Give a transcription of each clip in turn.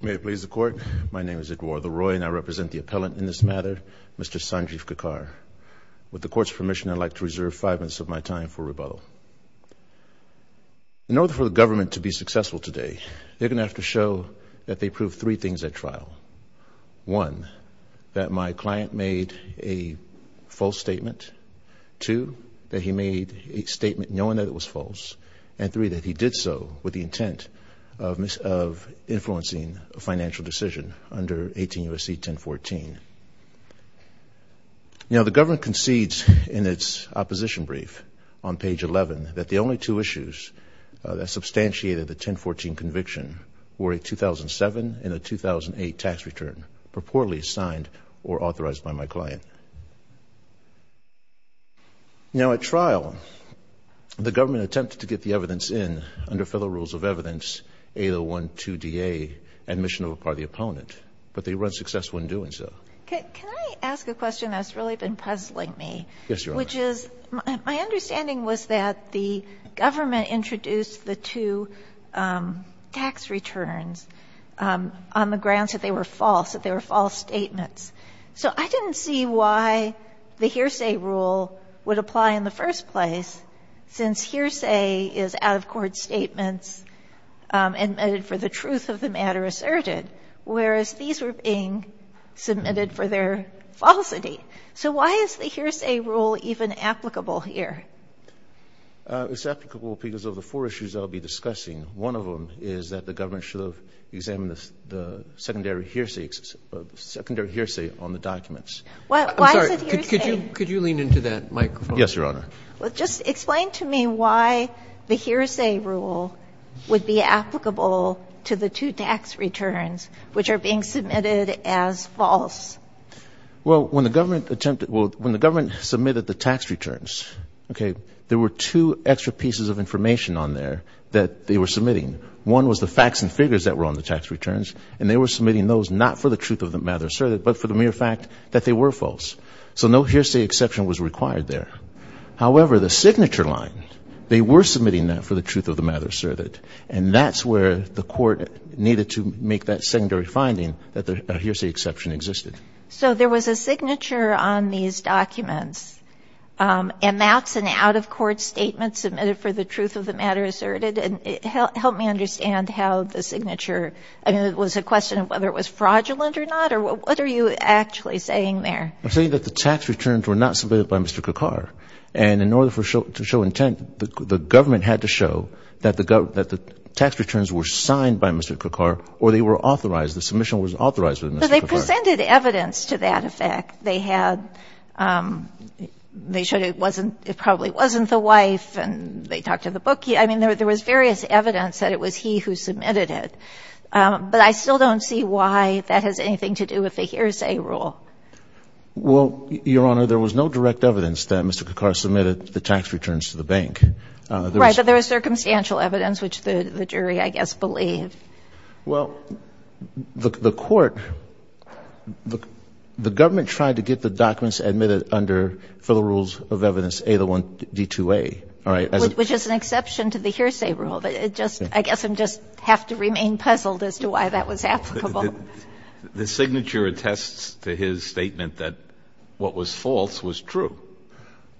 May it please the court, my name is Eduardo Roy and I represent the appellant in this matter, Mr. Sanjiv Kakkar. With the court's permission, I'd like to reserve five minutes of my time for rebuttal. In order for the government to be successful today, they're gonna have to show that they proved three things at trial. One, that my client made a false statement. Two, that he made a statement knowing that it was false. And three, that he did so with the intent of influencing a financial decision under 18 U.S.C. 1014. Now the government concedes in its opposition brief on page 11 that the only two issues that substantiated the 1014 conviction were a 2007 and a 2008 tax return purportedly signed or authorized by my client. Now at trial, the government attempted to get the evidence in under federal rules of evidence, 8012DA, admission of a part of the opponent. But they were unsuccessful in doing so. Can I ask a question that's really been puzzling me? Yes, Your Honor. Which is, my understanding was that the government introduced the two tax returns on the grounds that they were false, that they were false statements. So I didn't see why the hearsay rule would apply in the documents. Why is it hearsay? Could you lean into that microphone? Yes, Your Honor. Well, just explain to me why the hearsay rule is applicable in the documents? Why is it hearsay? Well, it's applicable because of the four issues that I'll be discussing. One of them is that the government should have examined the secondary hearsay on the documents. Why is it hearsay? I'm sorry. Could you lean into that microphone? Yes, Your Honor. Well, just explain to me why the hearsay rule would be applicable to the two tax returns which are being submitted as false? Well, when the government attempted, well, when the government submitted the tax returns, okay, there were two extra pieces of information on there that they were submitting. One was the facts and figures that were on the tax returns, and they were submitting those not for the truth of the matter asserted, but for the mere fact that they were false. So no hearsay exception was required there. However, the signature line, they were submitting that for the truth of the matter asserted, and that's where the court needed to make that secondary finding that the hearsay exception existed. So there was a signature on these documents, and that's an out-of-court statement that was submitted for the truth of the matter asserted, and it helped me understand how the signature, I mean, it was a question of whether it was fraudulent or not, or what are you actually saying there? I'm saying that the tax returns were not submitted by Mr. Kekar, and in order to show intent, the government had to show that the tax returns were signed by Mr. Kekar or they were authorized, the submission was authorized by Mr. Kekar. But they presented evidence to that effect. They had, they showed it probably wasn't the wife, and they talked to the bookie. I mean, there was various evidence that it was he who submitted it, but I still don't see why that has anything to do with the hearsay rule. Well, Your Honor, there was no direct evidence that Mr. Kekar submitted the tax returns to the bank. Right, but there was circumstantial evidence, which the jury, I guess, believed. Well, the court, the government tried to get the documents admitted under, for the hearsay rule, D-2A. Which is an exception to the hearsay rule, but it just, I guess I just have to remain puzzled as to why that was applicable. The signature attests to his statement that what was false was true.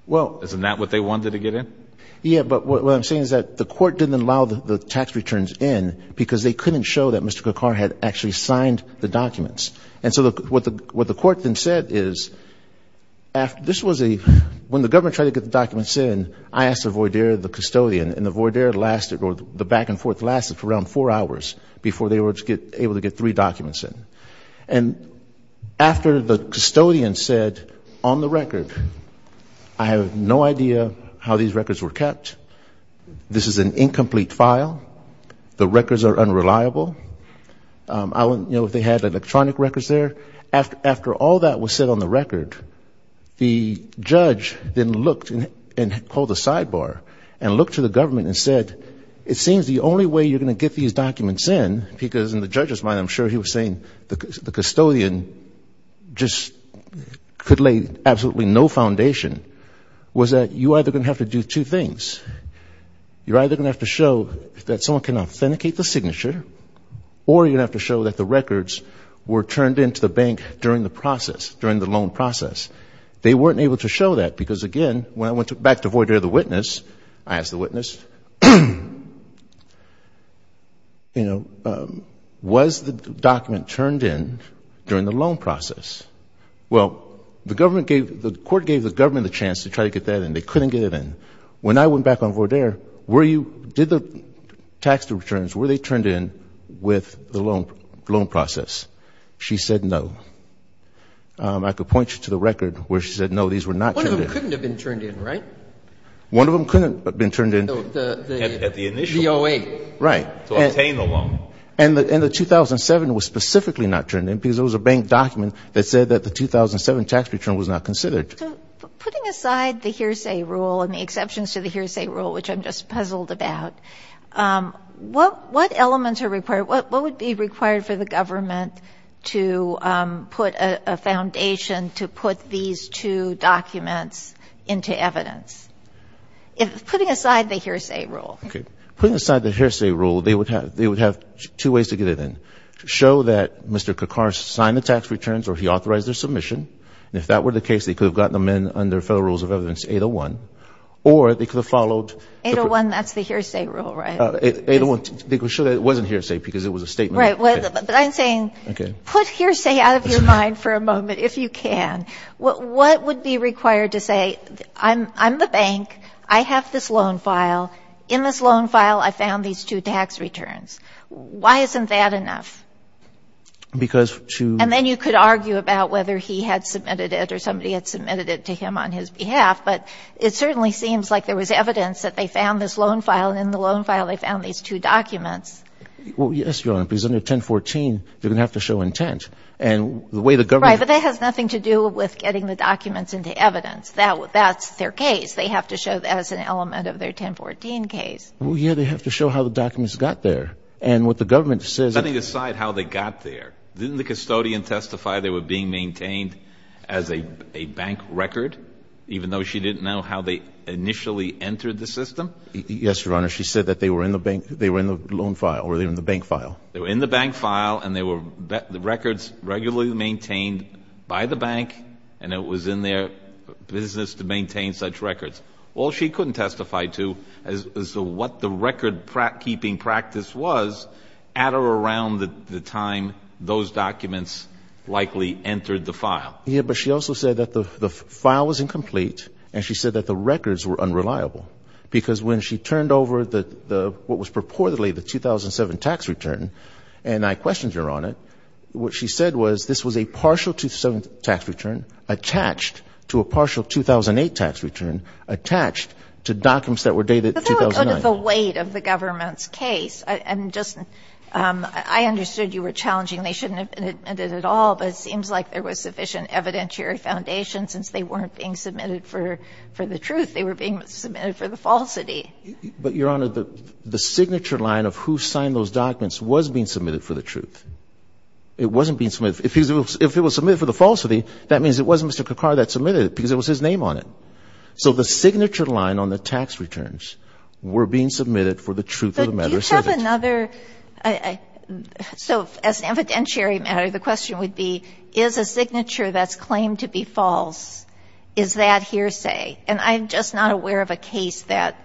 Well. Isn't that what they wanted to get in? Yes, but what I'm saying is that the court didn't allow the tax returns in because they couldn't show that Mr. Kekar had actually signed the documents. And so what the court then said is, this was a, when the government tried to get the documents in, I asked the voir dire, the custodian, and the voir dire lasted, or the back and forth lasted for around four hours before they were able to get three documents in. And after the custodian said, on the record, I have no idea how these records were kept. This is an incomplete file. The records are unreliable. You know, they had electronic records there. After all that was said on the record, the judge then looked and called a sidebar and looked to the government and said, it seems the only way you're going to get these documents in, because in the judge's mind, I'm sure he was saying the custodian just could lay absolutely no foundation, was that you're either going to have to do two things. You're either going to have to show that someone can authenticate the signature, or you're going to have to show that the records were turned in to the bank during the process, during the loan process. They weren't able to show that, because again, when I went back to voir dire the witness, I asked the witness, you know, was the document turned in during the loan process? Well, the government gave, the court gave the government the chance to try to get that in. They couldn't get it in. When I went back on voir dire, were you, did the tax returns, were they turned in with the loan process? She said no. I could point you to the record where she said no, these were not turned in. One of them couldn't have been turned in, right? One of them couldn't have been turned in. At the initial. The OA. Right. To obtain the loan. And the 2007 was specifically not turned in, because it was a bank document that said that the 2007 tax return was not considered. Putting aside the hearsay rule and the exceptions to the hearsay rule, which I'm just puzzled about, what elements are required, what would be required for the government to put a foundation to put these two documents into evidence? Putting aside the hearsay rule. Putting aside the hearsay rule, they would have two ways to get it in. To show that Mr. Kakar signed the tax returns or he authorized their submission. And if that were the case, they could have gotten them in under Federal Rules of Evidence 801. Or they could have followed. 801, that's the hearsay rule, right? 801. To show that it wasn't hearsay, because it was a statement. Right. But I'm saying. Okay. Put hearsay out of your mind for a moment, if you can. What would be required to say, I'm the bank. I have this loan file. In this loan file, I found these two tax returns. Why isn't that enough? Because to. And then you could argue about whether he had submitted it or somebody had submitted it to him on his behalf. But it certainly seems like there was evidence that they found this loan file. And in the loan file, they found these two documents. Well, yes, Your Honor. Because under 1014, they're going to have to show intent. And the way the government. Right. But that has nothing to do with getting the documents into evidence. That's their case. They have to show that as an element of their 1014 case. Well, yeah, they have to show how the documents got there. And what the government says. Setting aside how they got there, didn't the custodian testify they were being maintained as a bank record, even though she didn't know how they initially entered the system? Yes, Your Honor. She said that they were in the bank. They were in the loan file or they were in the bank file. They were in the bank file. And they were records regularly maintained by the bank. And it was in their business to maintain such records. Well, she couldn't testify to as to what the record-keeping practice was at or around the time those documents likely entered the file. Yeah, but she also said that the file was incomplete, and she said that the records were unreliable. Because when she turned over what was purportedly the 2007 tax return, and I questioned Your Honor, what she said was this was a partial 2007 tax return attached to a partial 2008 tax return attached to documents that were dated 2009. But that would put the weight of the government's case. And just I understood you were challenging they shouldn't have been admitted at all, but it seems like there was sufficient evidentiary foundation since they weren't being submitted for the truth. They were being submitted for the falsity. But, Your Honor, the signature line of who signed those documents was being submitted for the truth. It wasn't being submitted. If it was submitted for the falsity, that means it was Mr. Kakar that submitted it because it was his name on it. So the signature line on the tax returns were being submitted for the truth of the matter. But do you have another? So as an evidentiary matter, the question would be is a signature that's claimed to be false, is that hearsay? And I'm just not aware of a case that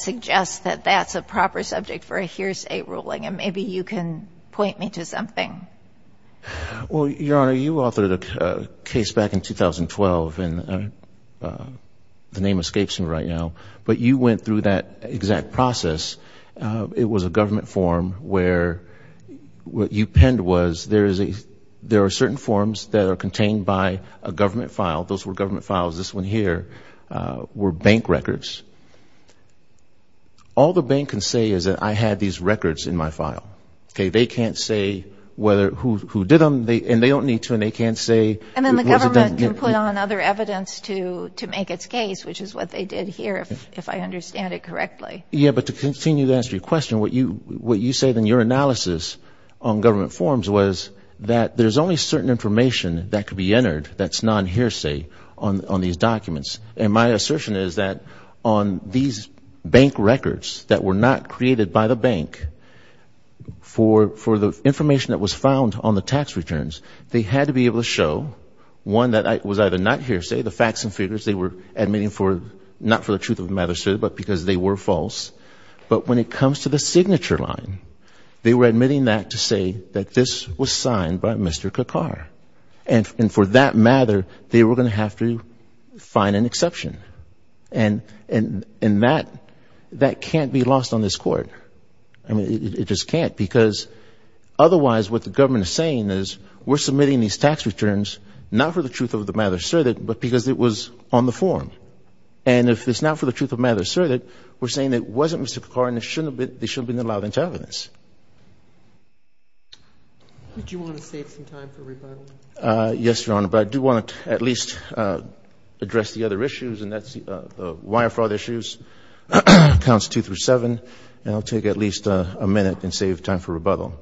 suggests that that's a proper subject for a hearsay ruling, and maybe you can point me to something. Well, Your Honor, you authored a case back in 2012, and the name escapes me right now. But you went through that exact process. It was a government form where what you penned was there are certain forms that are contained by a government file. Those were government files. This one here were bank records. All the bank can say is that I had these records in my file. They can't say who did them, and they don't need to, and they can't say who was it done. And then the government can put on other evidence to make its case, which is what they did here, if I understand it correctly. Yeah, but to continue to answer your question, what you say in your analysis on government forms was that there's only certain information that could be entered that's non-hearsay on these documents. And my assertion is that on these bank records that were not created by the bank, for the information that was found on the tax returns, they had to be able to show one that was either not hearsay, the facts and figures they were admitting not for the truth of the matter, but because they were false. But when it comes to the signature line, they were admitting that to say that this was signed by Mr. Kakar. And for that matter, they were going to have to find an exception. And that can't be lost on this Court. I mean, it just can't, because otherwise what the government is saying is we're submitting these tax returns not for the truth of the matter, but because it was on the form. And if it's not for the truth of the matter asserted, we're saying that it wasn't Mr. Kakar and they shouldn't have been allowed into evidence. Do you want to save some time for rebuttal? Yes, Your Honor, but I do want to at least address the other issues, and that's the wire fraud issues, counts two through seven. And I'll take at least a minute and save time for rebuttal.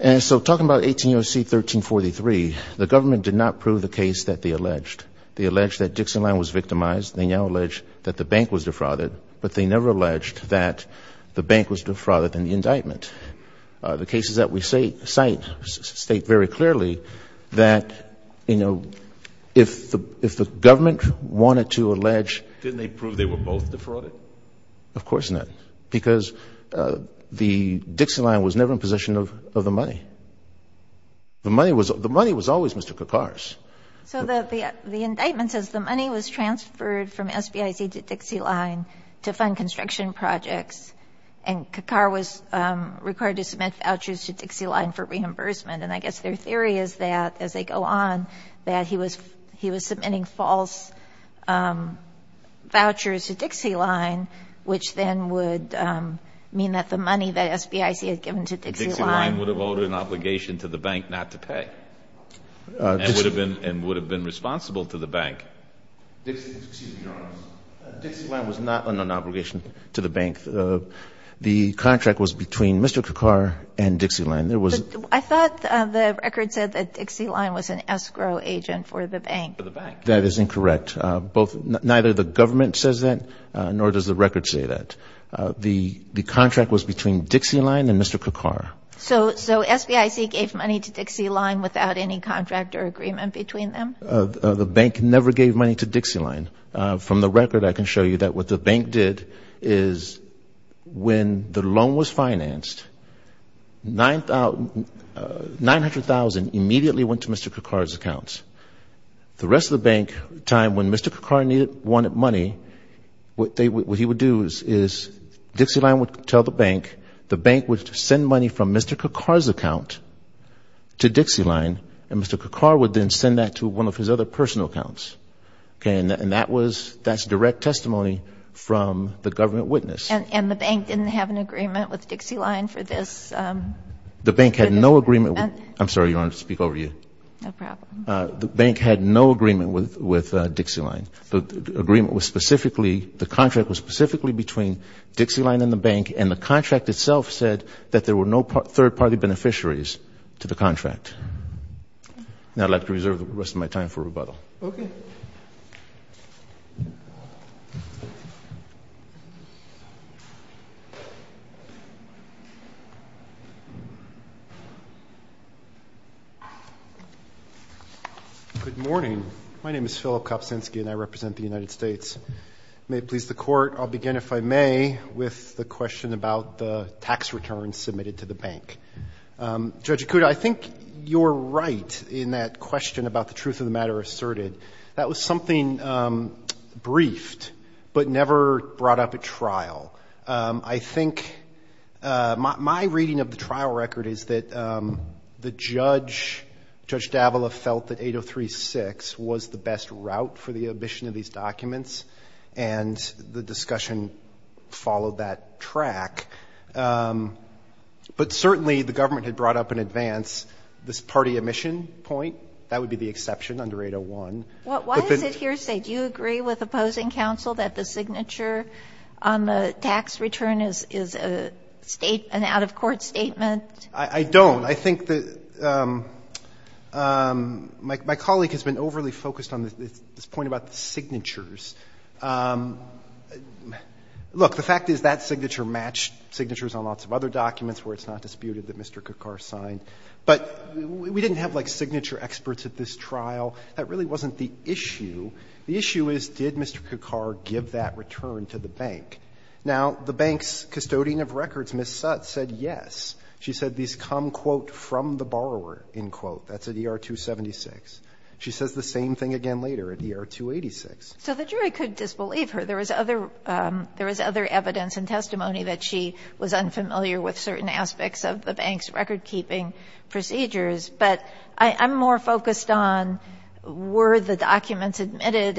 And so talking about 18 U.S.C. 1343, the government did not prove the case that they alleged. They alleged that Dixon Line was victimized. They now allege that the bank was defrauded. But they never alleged that the bank was defrauded in the indictment. The cases that we cite state very clearly that, you know, if the government wanted to allege... Didn't they prove they were both defrauded? Of course not, because the Dixon Line was never in possession of the money. The money was always Mr. Kakar's. So the indictment says the money was transferred from SBIC to Dixie Line to fund construction projects, and Kakar was required to submit vouchers to Dixie Line for reimbursement. And I guess their theory is that, as they go on, that he was submitting false vouchers to Dixie Line, which then would mean that the money that SBIC had given to Dixie Line... And would have been responsible to the bank. Excuse me, Your Honor. Dixie Line was not an obligation to the bank. The contract was between Mr. Kakar and Dixie Line. I thought the record said that Dixie Line was an escrow agent for the bank. For the bank. That is incorrect. Neither the government says that, nor does the record say that. The contract was between Dixie Line and Mr. Kakar. So SBIC gave money to Dixie Line without any contract or agreement between them? The bank never gave money to Dixie Line. From the record, I can show you that what the bank did is when the loan was financed, $900,000 immediately went to Mr. Kakar's accounts. The rest of the bank, the time when Mr. Kakar wanted money, what he would do is Dixie Line would tell the bank, the bank would send money from Mr. Kakar's account to Dixie Line, and Mr. Kakar would then send that to one of his other personal accounts. And that's direct testimony from the government witness. And the bank didn't have an agreement with Dixie Line for this? The bank had no agreement... I'm sorry, Your Honor, to speak over you. No problem. The bank had no agreement with Dixie Line. The agreement was specifically, the contract was specifically between Dixie Line and the bank, and the contract itself said that there were no third-party beneficiaries to the contract. Now I'd like to reserve the rest of my time for rebuttal. Okay. Good morning. My name is Philip Kopczynski, and I represent the United States. May it please the Court, I'll begin, if I may, with the question about the tax returns submitted to the bank. Judge Ikuda, I think you're right in that question about the truth of the matter asserted. That was something briefed, but never brought up at trial. I think my reading of the trial record is that the judge, Judge Davila, felt that 803-6 was the best route for the omission of these documents, and the discussion followed that track. But certainly the government had brought up in advance this party omission point. That would be the exception under 801. Why is it hearsay? Do you agree with opposing counsel that the signature on the tax return is a state, an out-of-court statement? I don't. I think that my colleague has been overly focused on this point about the signatures. Look, the fact is that signature matched signatures on lots of other documents where it's not disputed that Mr. Kakar signed. But we didn't have, like, signature experts at this trial. That really wasn't the issue. The issue is, did Mr. Kakar give that return to the bank? Now, the bank's custodian of records, Ms. Sutt, said yes. She said these come, quote, from the borrower, end quote. That's at ER-276. She says the same thing again later at ER-286. So the jury could disbelieve her. There was other evidence and testimony that she was unfamiliar with certain aspects of the bank's recordkeeping procedures. But I'm more focused on were the documents admitted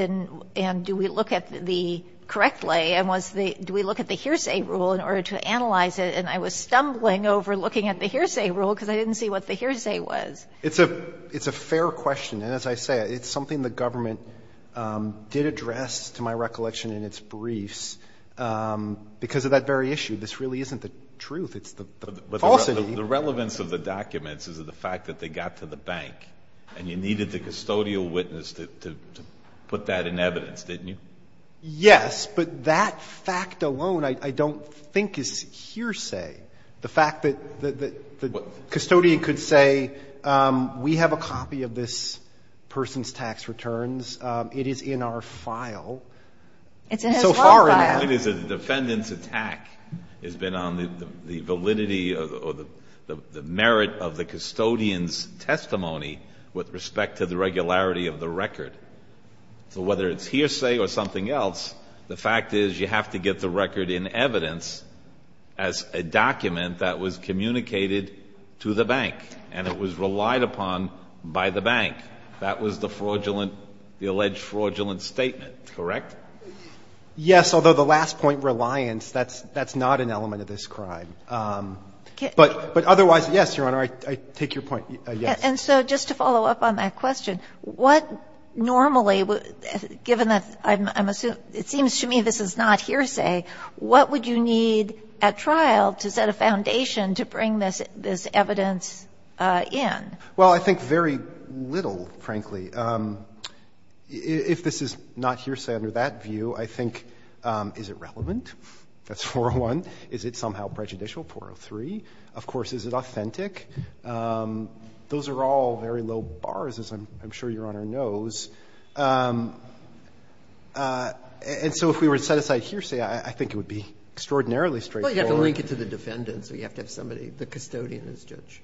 and do we look at the correct lay and was the do we look at the hearsay rule in order to analyze it? And I was stumbling over looking at the hearsay rule because I didn't see what the hearsay was. It's a fair question. And as I say, it's something the government did address, to my recollection, in its briefs because of that very issue. This really isn't the truth. It's the falsity. The relevance of the documents is the fact that they got to the bank and you needed the custodial witness to put that in evidence, didn't you? Yes. But that fact alone I don't think is hearsay. The fact that the custodian could say we have a copy of this person's tax returns. It is in our file. It's in his law file. The point is the defendant's attack has been on the validity or the merit of the custodian's testimony with respect to the regularity of the record. So whether it's hearsay or something else, the fact is you have to get the record in evidence as a document that was communicated to the bank and it was relied upon by the bank. That was the fraudulent, the alleged fraudulent statement, correct? Yes. Although the last point, reliance, that's not an element of this crime. But otherwise, yes, Your Honor, I take your point, yes. And so just to follow up on that question, what normally, given that I'm assuming it seems to me this is not hearsay, what would you need at trial to set a foundation to bring this evidence in? Well, I think very little, frankly. If this is not hearsay under that view, I think, is it relevant? That's 401. Is it somehow prejudicial, 403? Of course, is it authentic? Those are all very low bars, as I'm sure Your Honor knows. And so if we were to set aside hearsay, I think it would be extraordinarily straightforward. Well, you have to link it to the defendant, so you have to have somebody, the custodian as judge.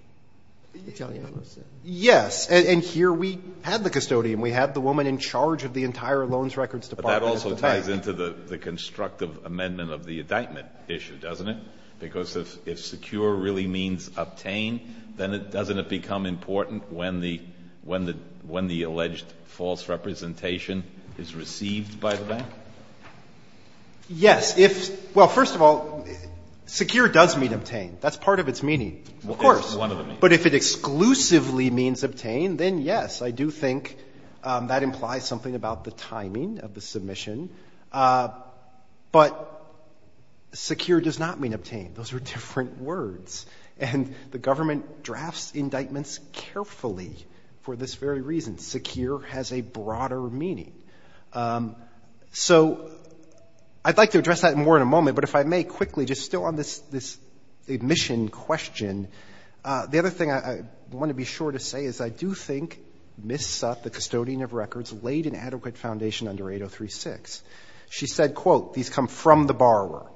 Yes. And here we had the custodian. We had the woman in charge of the entire Loans Records Department. But that also ties into the constructive amendment of the indictment issue, doesn't it? Because if secure really means obtained, then doesn't it become important when the alleged false representation is received by the bank? Yes. Well, first of all, secure does mean obtained. That's part of its meaning. Of course. But if it exclusively means obtained, then yes, I do think that implies something about the timing of the submission. But secure does not mean obtained. Those are different words. And the government drafts indictments carefully for this very reason. Secure has a broader meaning. So I'd like to address that more in a moment, but if I may quickly, just still on this admission question, the other thing I want to be sure to say is I do think Ms. Sutt, the custodian of records, laid an adequate foundation under 803-6. She said, quote, these come from the borrower.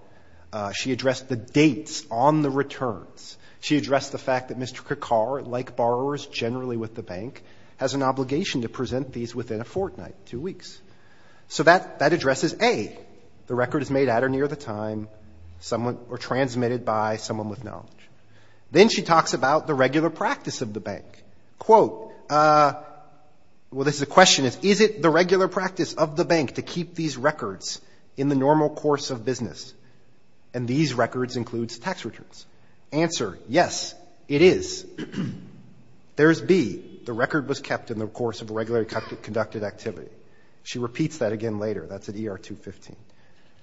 She addressed the dates on the returns. She addressed the fact that Mr. Kekar, like borrowers generally with the bank, has an obligation to present these within a fortnight, two weeks. So that addresses, A, the record is made at or near the time or transmitted by someone with knowledge. Then she talks about the regular practice of the bank. Quote, well, the question is, is it the regular practice of the bank to keep these records in the normal course of business, and these records include tax returns? Answer, yes, it is. There's B, the record was kept in the course of a regularly conducted activity. She repeats that again later. That's at ER-215.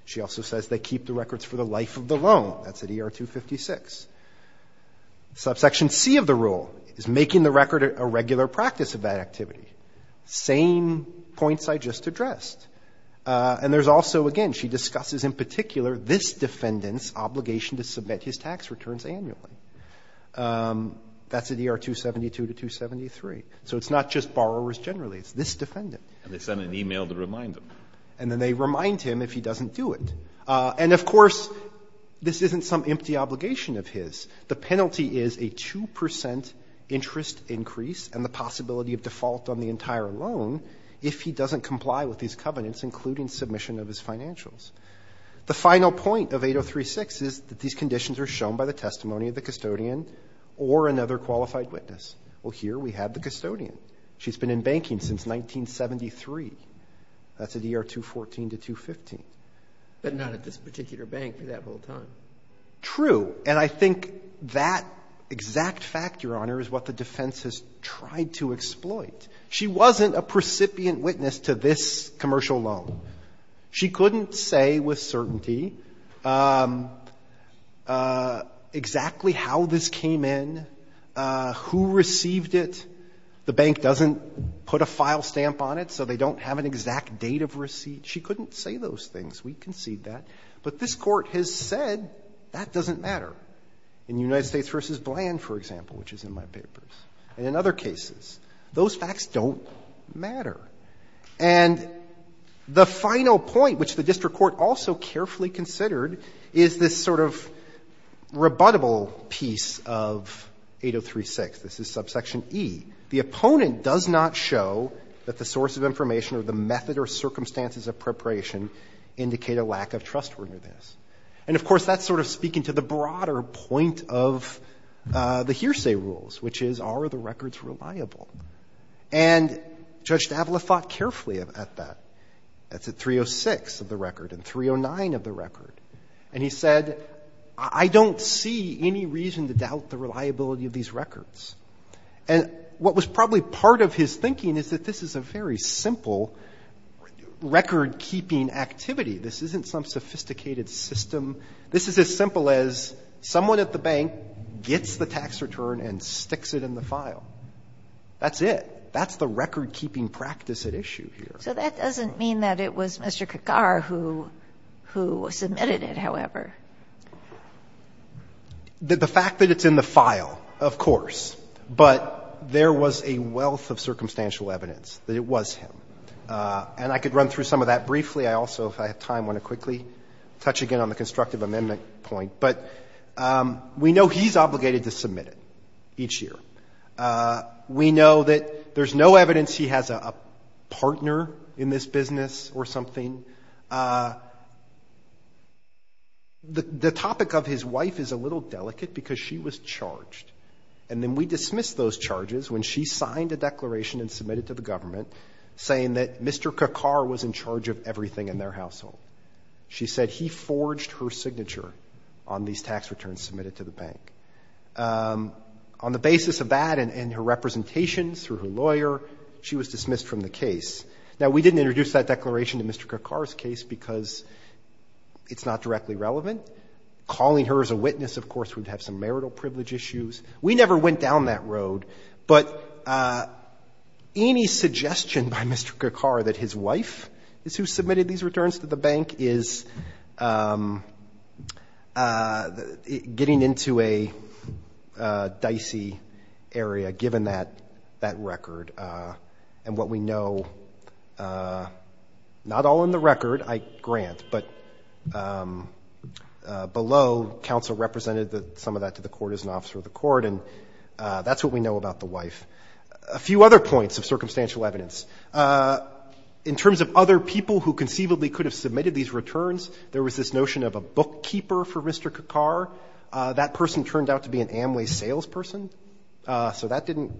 She also says they keep the records for the life of the loan. That's at ER-256. Subsection C of the rule is making the record a regular practice of that activity. Same points I just addressed. And there's also, again, she discusses in particular this defendant's obligation to submit his tax returns annually. That's at ER-272 to 273. So it's not just borrowers generally. It's this defendant. And they send an e-mail to remind him. And then they remind him if he doesn't do it. And, of course, this isn't some empty obligation of his. The penalty is a 2 percent interest increase and the possibility of default on the entire loan if he doesn't comply with these covenants, including submission of his financials. The final point of 803-6 is that these conditions are shown by the testimony of the custodian or another qualified witness. Well, here we have the custodian. She's been in banking since 1973. That's at ER-214 to 215. But not at this particular bank for that whole time. True. And I think that exact factor, Your Honor, is what the defense has tried to exploit. She wasn't a precipient witness to this commercial loan. She couldn't say with certainty exactly how this came in, who received it, the bank doesn't put a file stamp on it so they don't have an exact date of receipt. She couldn't say those things. We concede that. But this Court has said that doesn't matter. In United States v. Bland, for example, which is in my papers, and in other cases, those facts don't matter. And the final point, which the district court also carefully considered, is this sort of rebuttable piece of 803-6. This is subsection E. The opponent does not show that the source of information or the method or circumstances of preparation indicate a lack of trustworthiness. And, of course, that's sort of speaking to the broader point of the hearsay rules, which is, are the records reliable? And Judge Davila thought carefully at that. That's at 306 of the record and 309 of the record. And he said, I don't see any reason to doubt the reliability of these records. And what was probably part of his thinking is that this is a very simple record-keeping activity. This isn't some sophisticated system. This is as simple as someone at the bank gets the tax return and sticks it in the file. That's it. That's the record-keeping practice at issue here. So that doesn't mean that it was Mr. Kakar who submitted it, however. The fact that it's in the file, of course, but there was a wealth of circumstantial evidence that it was him. And I could run through some of that briefly. I also, if I have time, want to quickly touch again on the constructive amendment point. But we know he's obligated to submit it each year. We know that there's no evidence he has a partner in this business or something. The topic of his wife is a little delicate because she was charged. And then we dismissed those charges when she signed a declaration and submitted to the government saying that Mr. Kakar was in charge of everything in their household. She said he forged her signature on these tax returns submitted to the bank. On the basis of that and her representations through her lawyer, she was dismissed from the case. Now, we didn't introduce that declaration to Mr. Kakar's case because it's not directly relevant. Calling her as a witness, of course, would have some marital privilege issues. We never went down that road. But any suggestion by Mr. Kakar that his wife is who submitted these returns to the bank is getting into a dicey area, given that record. And what we know, not all in the record, I grant, but below counsel represented some of that to the court as an officer of the court. And that's what we know about the wife. A few other points of circumstantial evidence. In terms of other people who conceivably could have submitted these returns, there was this notion of a bookkeeper for Mr. Kakar. That person turned out to be an Amway salesperson. So that didn't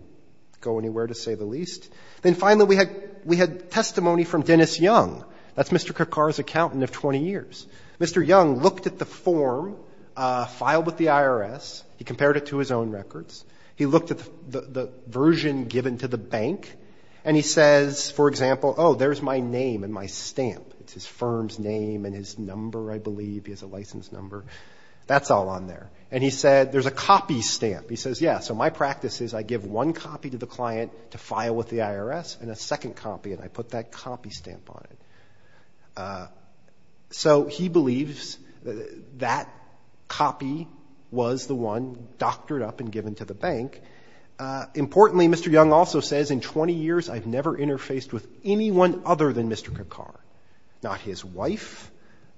go anywhere, to say the least. Then finally, we had testimony from Dennis Young. That's Mr. Kakar's accountant of 20 years. Mr. Young looked at the form filed with the IRS. He compared it to his own records. He looked at the version given to the bank. And he says, for example, oh, there's my name and my stamp. It's his firm's name and his number, I believe. He has a license number. That's all on there. And he said, there's a copy stamp. He says, yeah, so my practice is I give one copy to the client to file with the IRS, and a second copy, and I put that copy stamp on it. So he believes that copy was the one doctored up and given to the bank. Importantly, Mr. Young also says, in 20 years, I've never interfaced with anyone other than Mr. Kakar. Not his wife,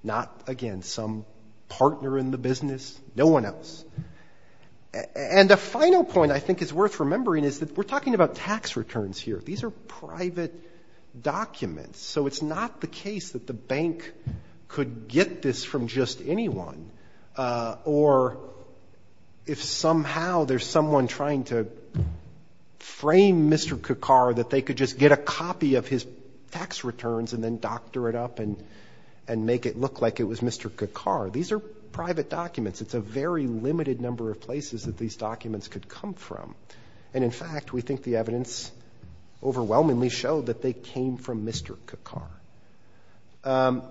not, again, some partner in the business, no one else. And a final point I think is worth remembering is that we're talking about tax returns here. These are private documents. So it's not the case that the bank could get this from just anyone, or if somehow there's someone trying to frame Mr. Kakar that they could just get a copy of his tax returns and then doctor it up and make it look like it was Mr. Kakar. These are private documents. It's a very limited number of places that these documents could come from. And, in fact, we think the evidence overwhelmingly showed that they came from Mr. Kakar.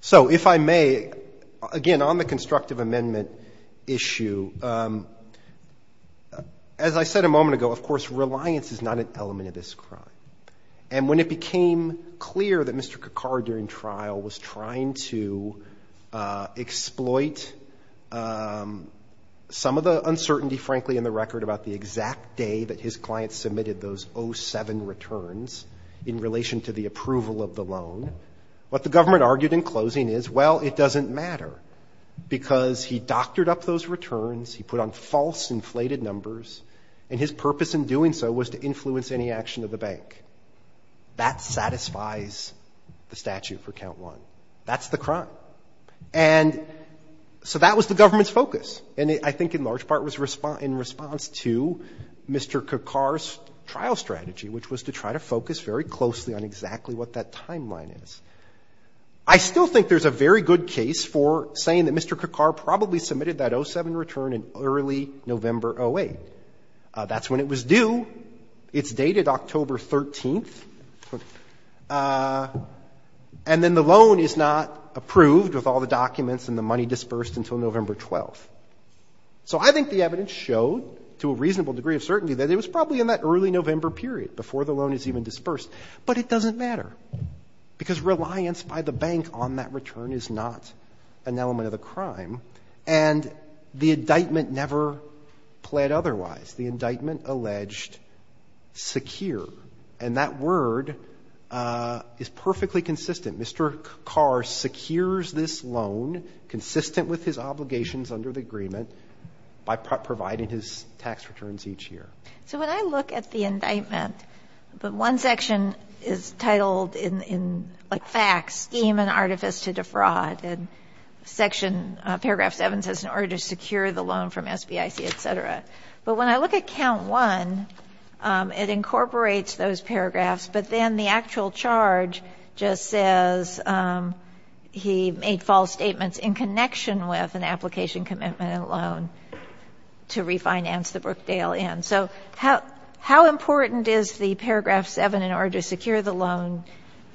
So if I may, again, on the constructive amendment issue, as I said a moment ago, of course, reliance is not an element of this crime. And when it became clear that Mr. Kakar, during trial, was trying to exploit some of the uncertainty, frankly, in the record, about the exact day that his client submitted those 07 returns in relation to the approval of the loan, what the government argued in closing is, well, it doesn't matter, because he doctored up those returns, he put on false inflated numbers, and his purpose in doing so was to influence any action of the bank. That satisfies the statute for count one. That's the crime. And so that was the government's focus. And I think in large part was in response to Mr. Kakar's trial strategy, which was to try to focus very closely on exactly what that timeline is. I still think there's a very good case for saying that Mr. Kakar probably submitted that 07 return in early November 08. That's when it was due. It's dated October 13th. And then the loan is not approved with all the documents and the money dispersed until November 12th. So I think the evidence showed, to a reasonable degree of certainty, that it was probably in that early November period, before the loan is even dispersed. But it doesn't matter, because reliance by the bank on that return is not an element of the crime. And the indictment never pled otherwise. The indictment alleged secure. And that word is perfectly consistent. Mr. Kakar secures this loan, consistent with his obligations under the agreement, by providing his tax returns each year. So when I look at the indictment, the one section is titled in, like, facts, scheme and artifice to defraud. And paragraph 7 says, in order to secure the loan from SBIC, et cetera. But when I look at count 1, it incorporates those paragraphs. But then the actual charge just says he made false statements in connection with an application commitment and loan to refinance the Brookdale Inn. So how important is the paragraph 7, in order to secure the loan,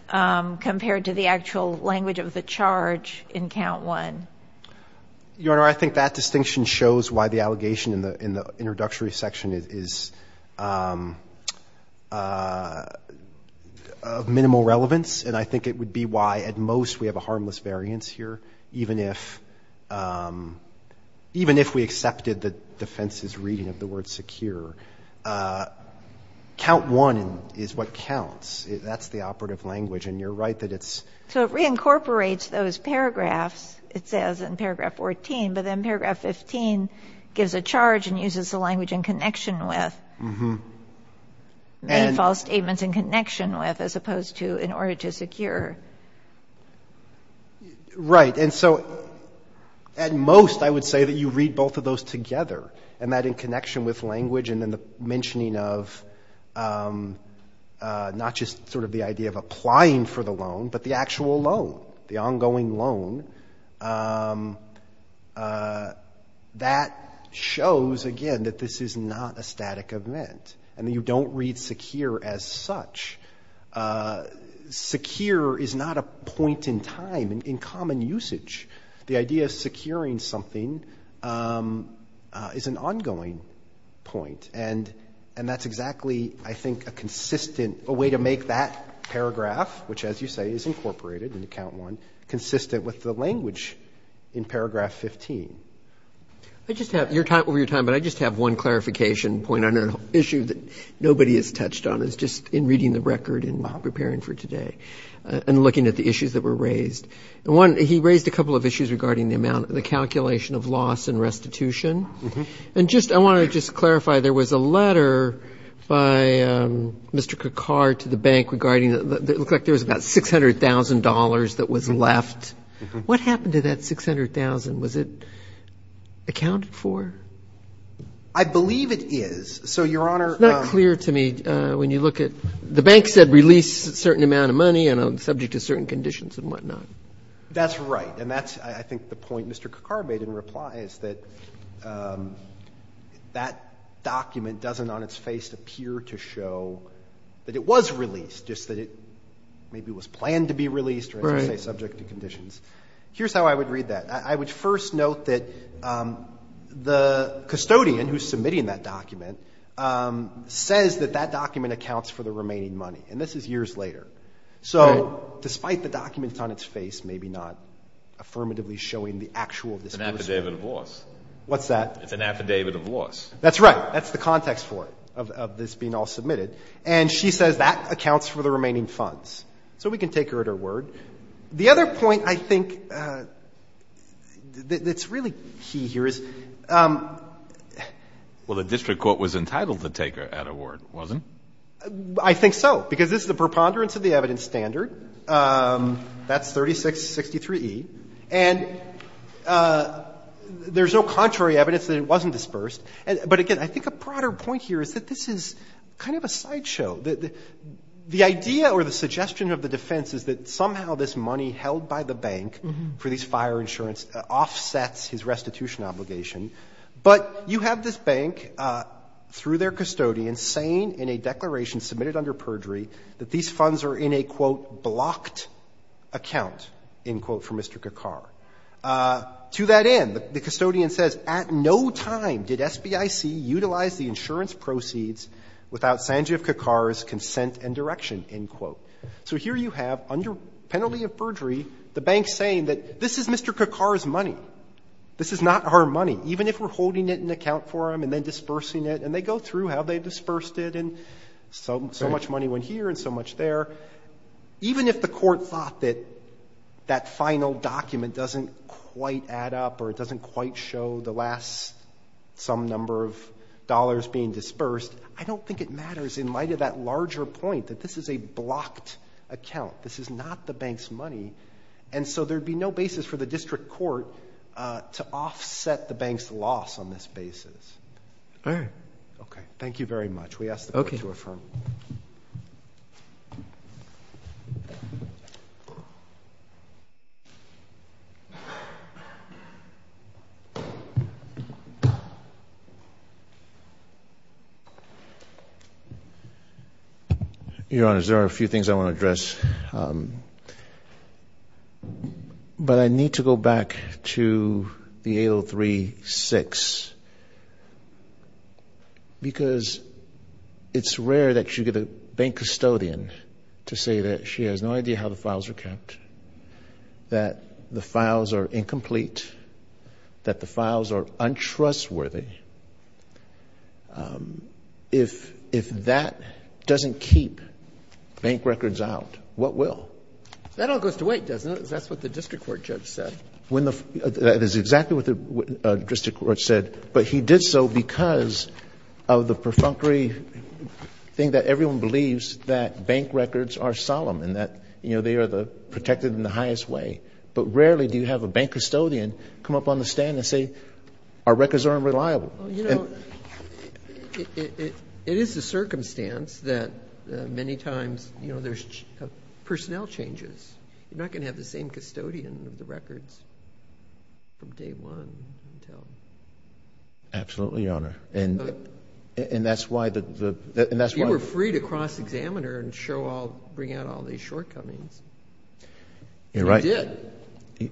compared to the actual language of the charge in count 1? Your Honor, I think that distinction shows why the allegation in the introductory section is of minimal relevance. And I think it would be why, at most, we have a harmless variance here, even if we accepted the defense's reading of the word secure. Count 1 is what counts. That's the operative language. And you're right that it's ‑‑ So it reincorporates those paragraphs, it says, in paragraph 14. But then paragraph 15 gives a charge and uses the language in connection with. Many false statements in connection with, as opposed to, in order to secure. Right. And so, at most, I would say that you read both of those together, and that in connection with language and in the mentioning of not just sort of the idea of applying for the loan, but the actual loan, the ongoing loan, that shows, again, that this is not a static event, and that you don't read secure as such. Secure is not a point in time in common usage. The idea of securing something is an ongoing point. And that's exactly, I think, a consistent ‑‑ a way to make that paragraph, which, as you say, is incorporated in Count 1, consistent with the language in paragraph 15. I just have ‑‑ over your time, but I just have one clarification point on an issue that nobody has touched on, is just in reading the record and preparing for today and looking at the issues that were raised. One, he raised a couple of issues regarding the calculation of loss and restitution. And just, I want to just clarify, there was a letter by Mr. Karkar to the bank regarding ‑‑ it looked like there was about $600,000 that was left. What happened to that $600,000? Was it accounted for? I believe it is. So, Your Honor ‑‑ It's not clear to me when you look at ‑‑ the bank said release a certain amount of money and subject to certain conditions and whatnot. That's right. And that's, I think, the point Mr. Karkar made in reply, is that that document doesn't on its face appear to show that it was released, just that it maybe was planned to be released or, as you say, subject to conditions. Right. Here's how I would read that. I would first note that the custodian who's submitting that document says that that document accounts for the remaining money. And this is years later. Right. So, despite the document on its face maybe not affirmatively showing the actual disposal. It's an affidavit of loss. What's that? It's an affidavit of loss. That's right. That's the context for it, of this being all submitted. And she says that accounts for the remaining funds. So, we can take her at her word. The other point I think that's really key here is. Well, the district court was entitled to take her at her word, wasn't it? I think so, because this is a preponderance of the evidence standard. That's 3663e. And there's no contrary evidence that it wasn't dispersed. But, again, I think a broader point here is that this is kind of a sideshow. The idea or the suggestion of the defense is that somehow this money held by the bank for these fire insurance offsets his restitution obligation. But you have this bank, through their custodian, saying in a declaration submitted under perjury that these funds are in a, quote, blocked account, end quote, for Mr. Kakar. To that end, the custodian says at no time did SBIC utilize the insurance proceeds without Sanjiv Kakar's consent and direction, end quote. So, here you have, under penalty of perjury, the bank saying that this is Mr. Kakar's money. This is not our money, even if we're holding it in account for him and then dispersing it. And they go through how they dispersed it, and so much money went here and so much there. Even if the court thought that that final document doesn't quite add up or it doesn't quite show the last some number of dollars being dispersed, I don't think it matters in light of that larger point that this is a blocked account. This is not the bank's money. And so there would be no basis for the district court to offset the bank's loss on this basis. All right. Okay. Thank you very much. We ask the court to affirm. Okay. Your Honor, there are a few things I want to address, but I need to go back to the 803-6 because it's rare that you get a bank custodian to say that she has no idea how the files are kept, that the files are incomplete, that the files are untrustworthy. If that doesn't keep bank records out, what will? That all goes to wait, doesn't it? Because that's what the district court judge said. That is exactly what the district court said, but he did so because of the perfunctory think that everyone believes that bank records are solemn and that, you know, they are protected in the highest way. But rarely do you have a bank custodian come up on the stand and say, our records are unreliable. It is a circumstance that many times, you know, there's personnel changes. You're not going to have the same custodian of the records from day one until... Absolutely, Your Honor. And that's why the... You were free to cross-examine her and show all, bring out all these shortcomings. You're right. You did.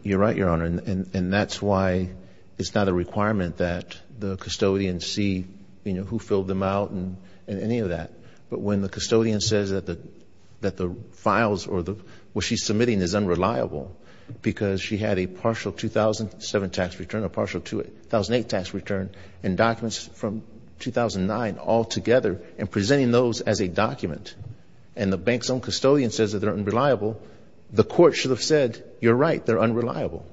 You're right, Your Honor. And that's why it's not a requirement that the custodian see, you know, who filled them out and any of that. But when the custodian says that the files or what she's submitting is unreliable because she had a partial 2007 tax return, a partial 2008 tax return, and documents from 2009 altogether, and presenting those as a document, and the bank's own custodian says that they're unreliable, the court should have said, you're right, they're unreliable.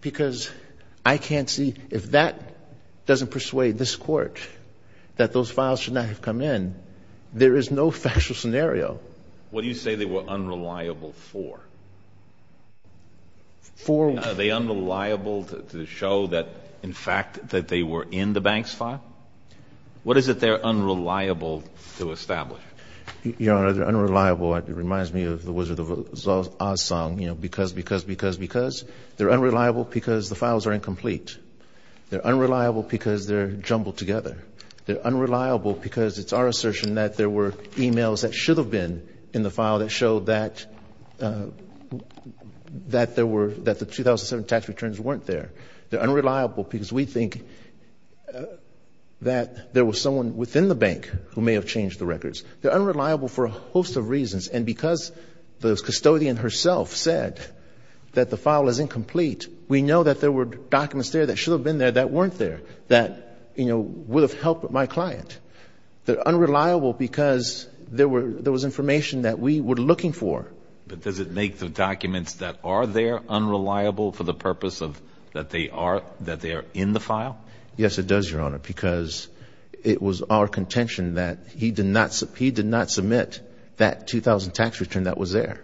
Because I can't see... If that doesn't persuade this court that those files should not have come in, there is no factual scenario. What do you say they were unreliable for? For... Are they unreliable to show that, in fact, that they were in the bank's file? What is it they're unreliable to establish? Your Honor, they're unreliable, it reminds me of the Wizard of Oz song, you know, because, because, because, because. They're unreliable because the files are incomplete. They're unreliable because they're jumbled together. They're unreliable because it's our assertion that there were e-mails that should have been in the file that showed that, that there were, that the 2007 tax returns weren't there. They're unreliable because we think that there was someone within the bank who may have changed the records. They're unreliable for a host of reasons, and because the custodian herself said that the file is incomplete, we know that there were documents there that should have been there that weren't there, that, you know, would have helped my client. They're unreliable because there were, there was information that we were looking for. But does it make the documents that are there unreliable for the purpose of that they are, that they are in the file? Yes, it does, Your Honor, because it was our contention that he did not, he did not submit that 2000 tax return that was there.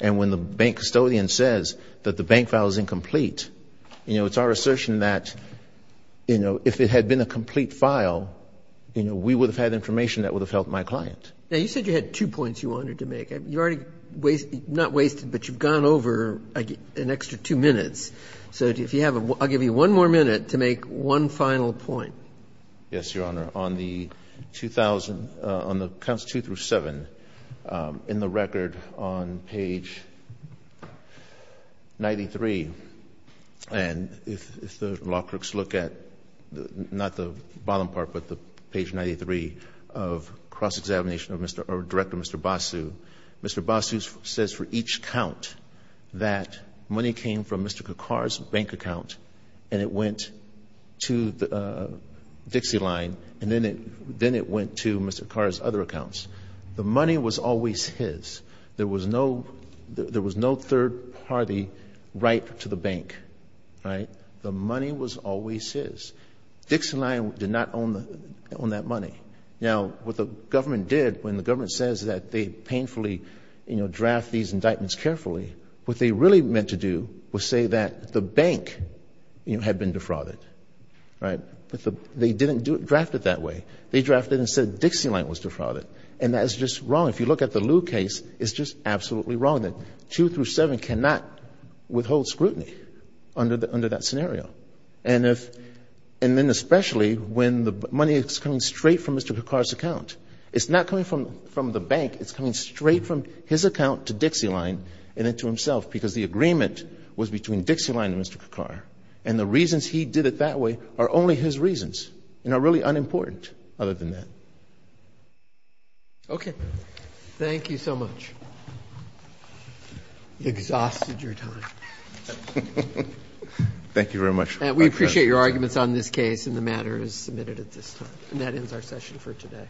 And when the bank custodian says that the bank file is incomplete, you know, it's our assertion that, you know, if it had been a complete file, you know, we would have had information that would have helped my client. Now, you said you had two points you wanted to make. You've already wasted, not wasted, but you've gone over an extra two minutes. So if you have a, I'll give you one more minute to make one final point. Yes, Your Honor. Your Honor, on the 2000, on the counts two through seven, in the record on page 93, and if the law clerks look at not the bottom part, but the page 93 of cross-examination of Mr. or Director Mr. Basu, Mr. Basu says for each count that money came from Mr. Kakar's bank account and it went to Dixieline and then it went to Mr. Kakar's other accounts. The money was always his. There was no third party right to the bank, right? The money was always his. Dixieline did not own that money. Now, what the government did when the government says that they painfully, you know, draft these indictments carefully, what they really meant to do was say that the bank, you know, had been defrauded, right? But they didn't draft it that way. They drafted it and said Dixieline was defrauded. And that is just wrong. If you look at the Lew case, it's just absolutely wrong that two through seven cannot withhold scrutiny under that scenario. And then especially when the money is coming straight from Mr. Kakar's account. It's not coming from the bank. It's coming straight from his account to Dixieline and then to himself because the agreement was between Dixieline and Mr. Kakar. And the reasons he did it that way are only his reasons and are really unimportant other than that. Okay. Thank you so much. Exhausted your time. Thank you very much. We appreciate your arguments on this case and the matter is submitted at this time. And that ends our session for today. Thank you.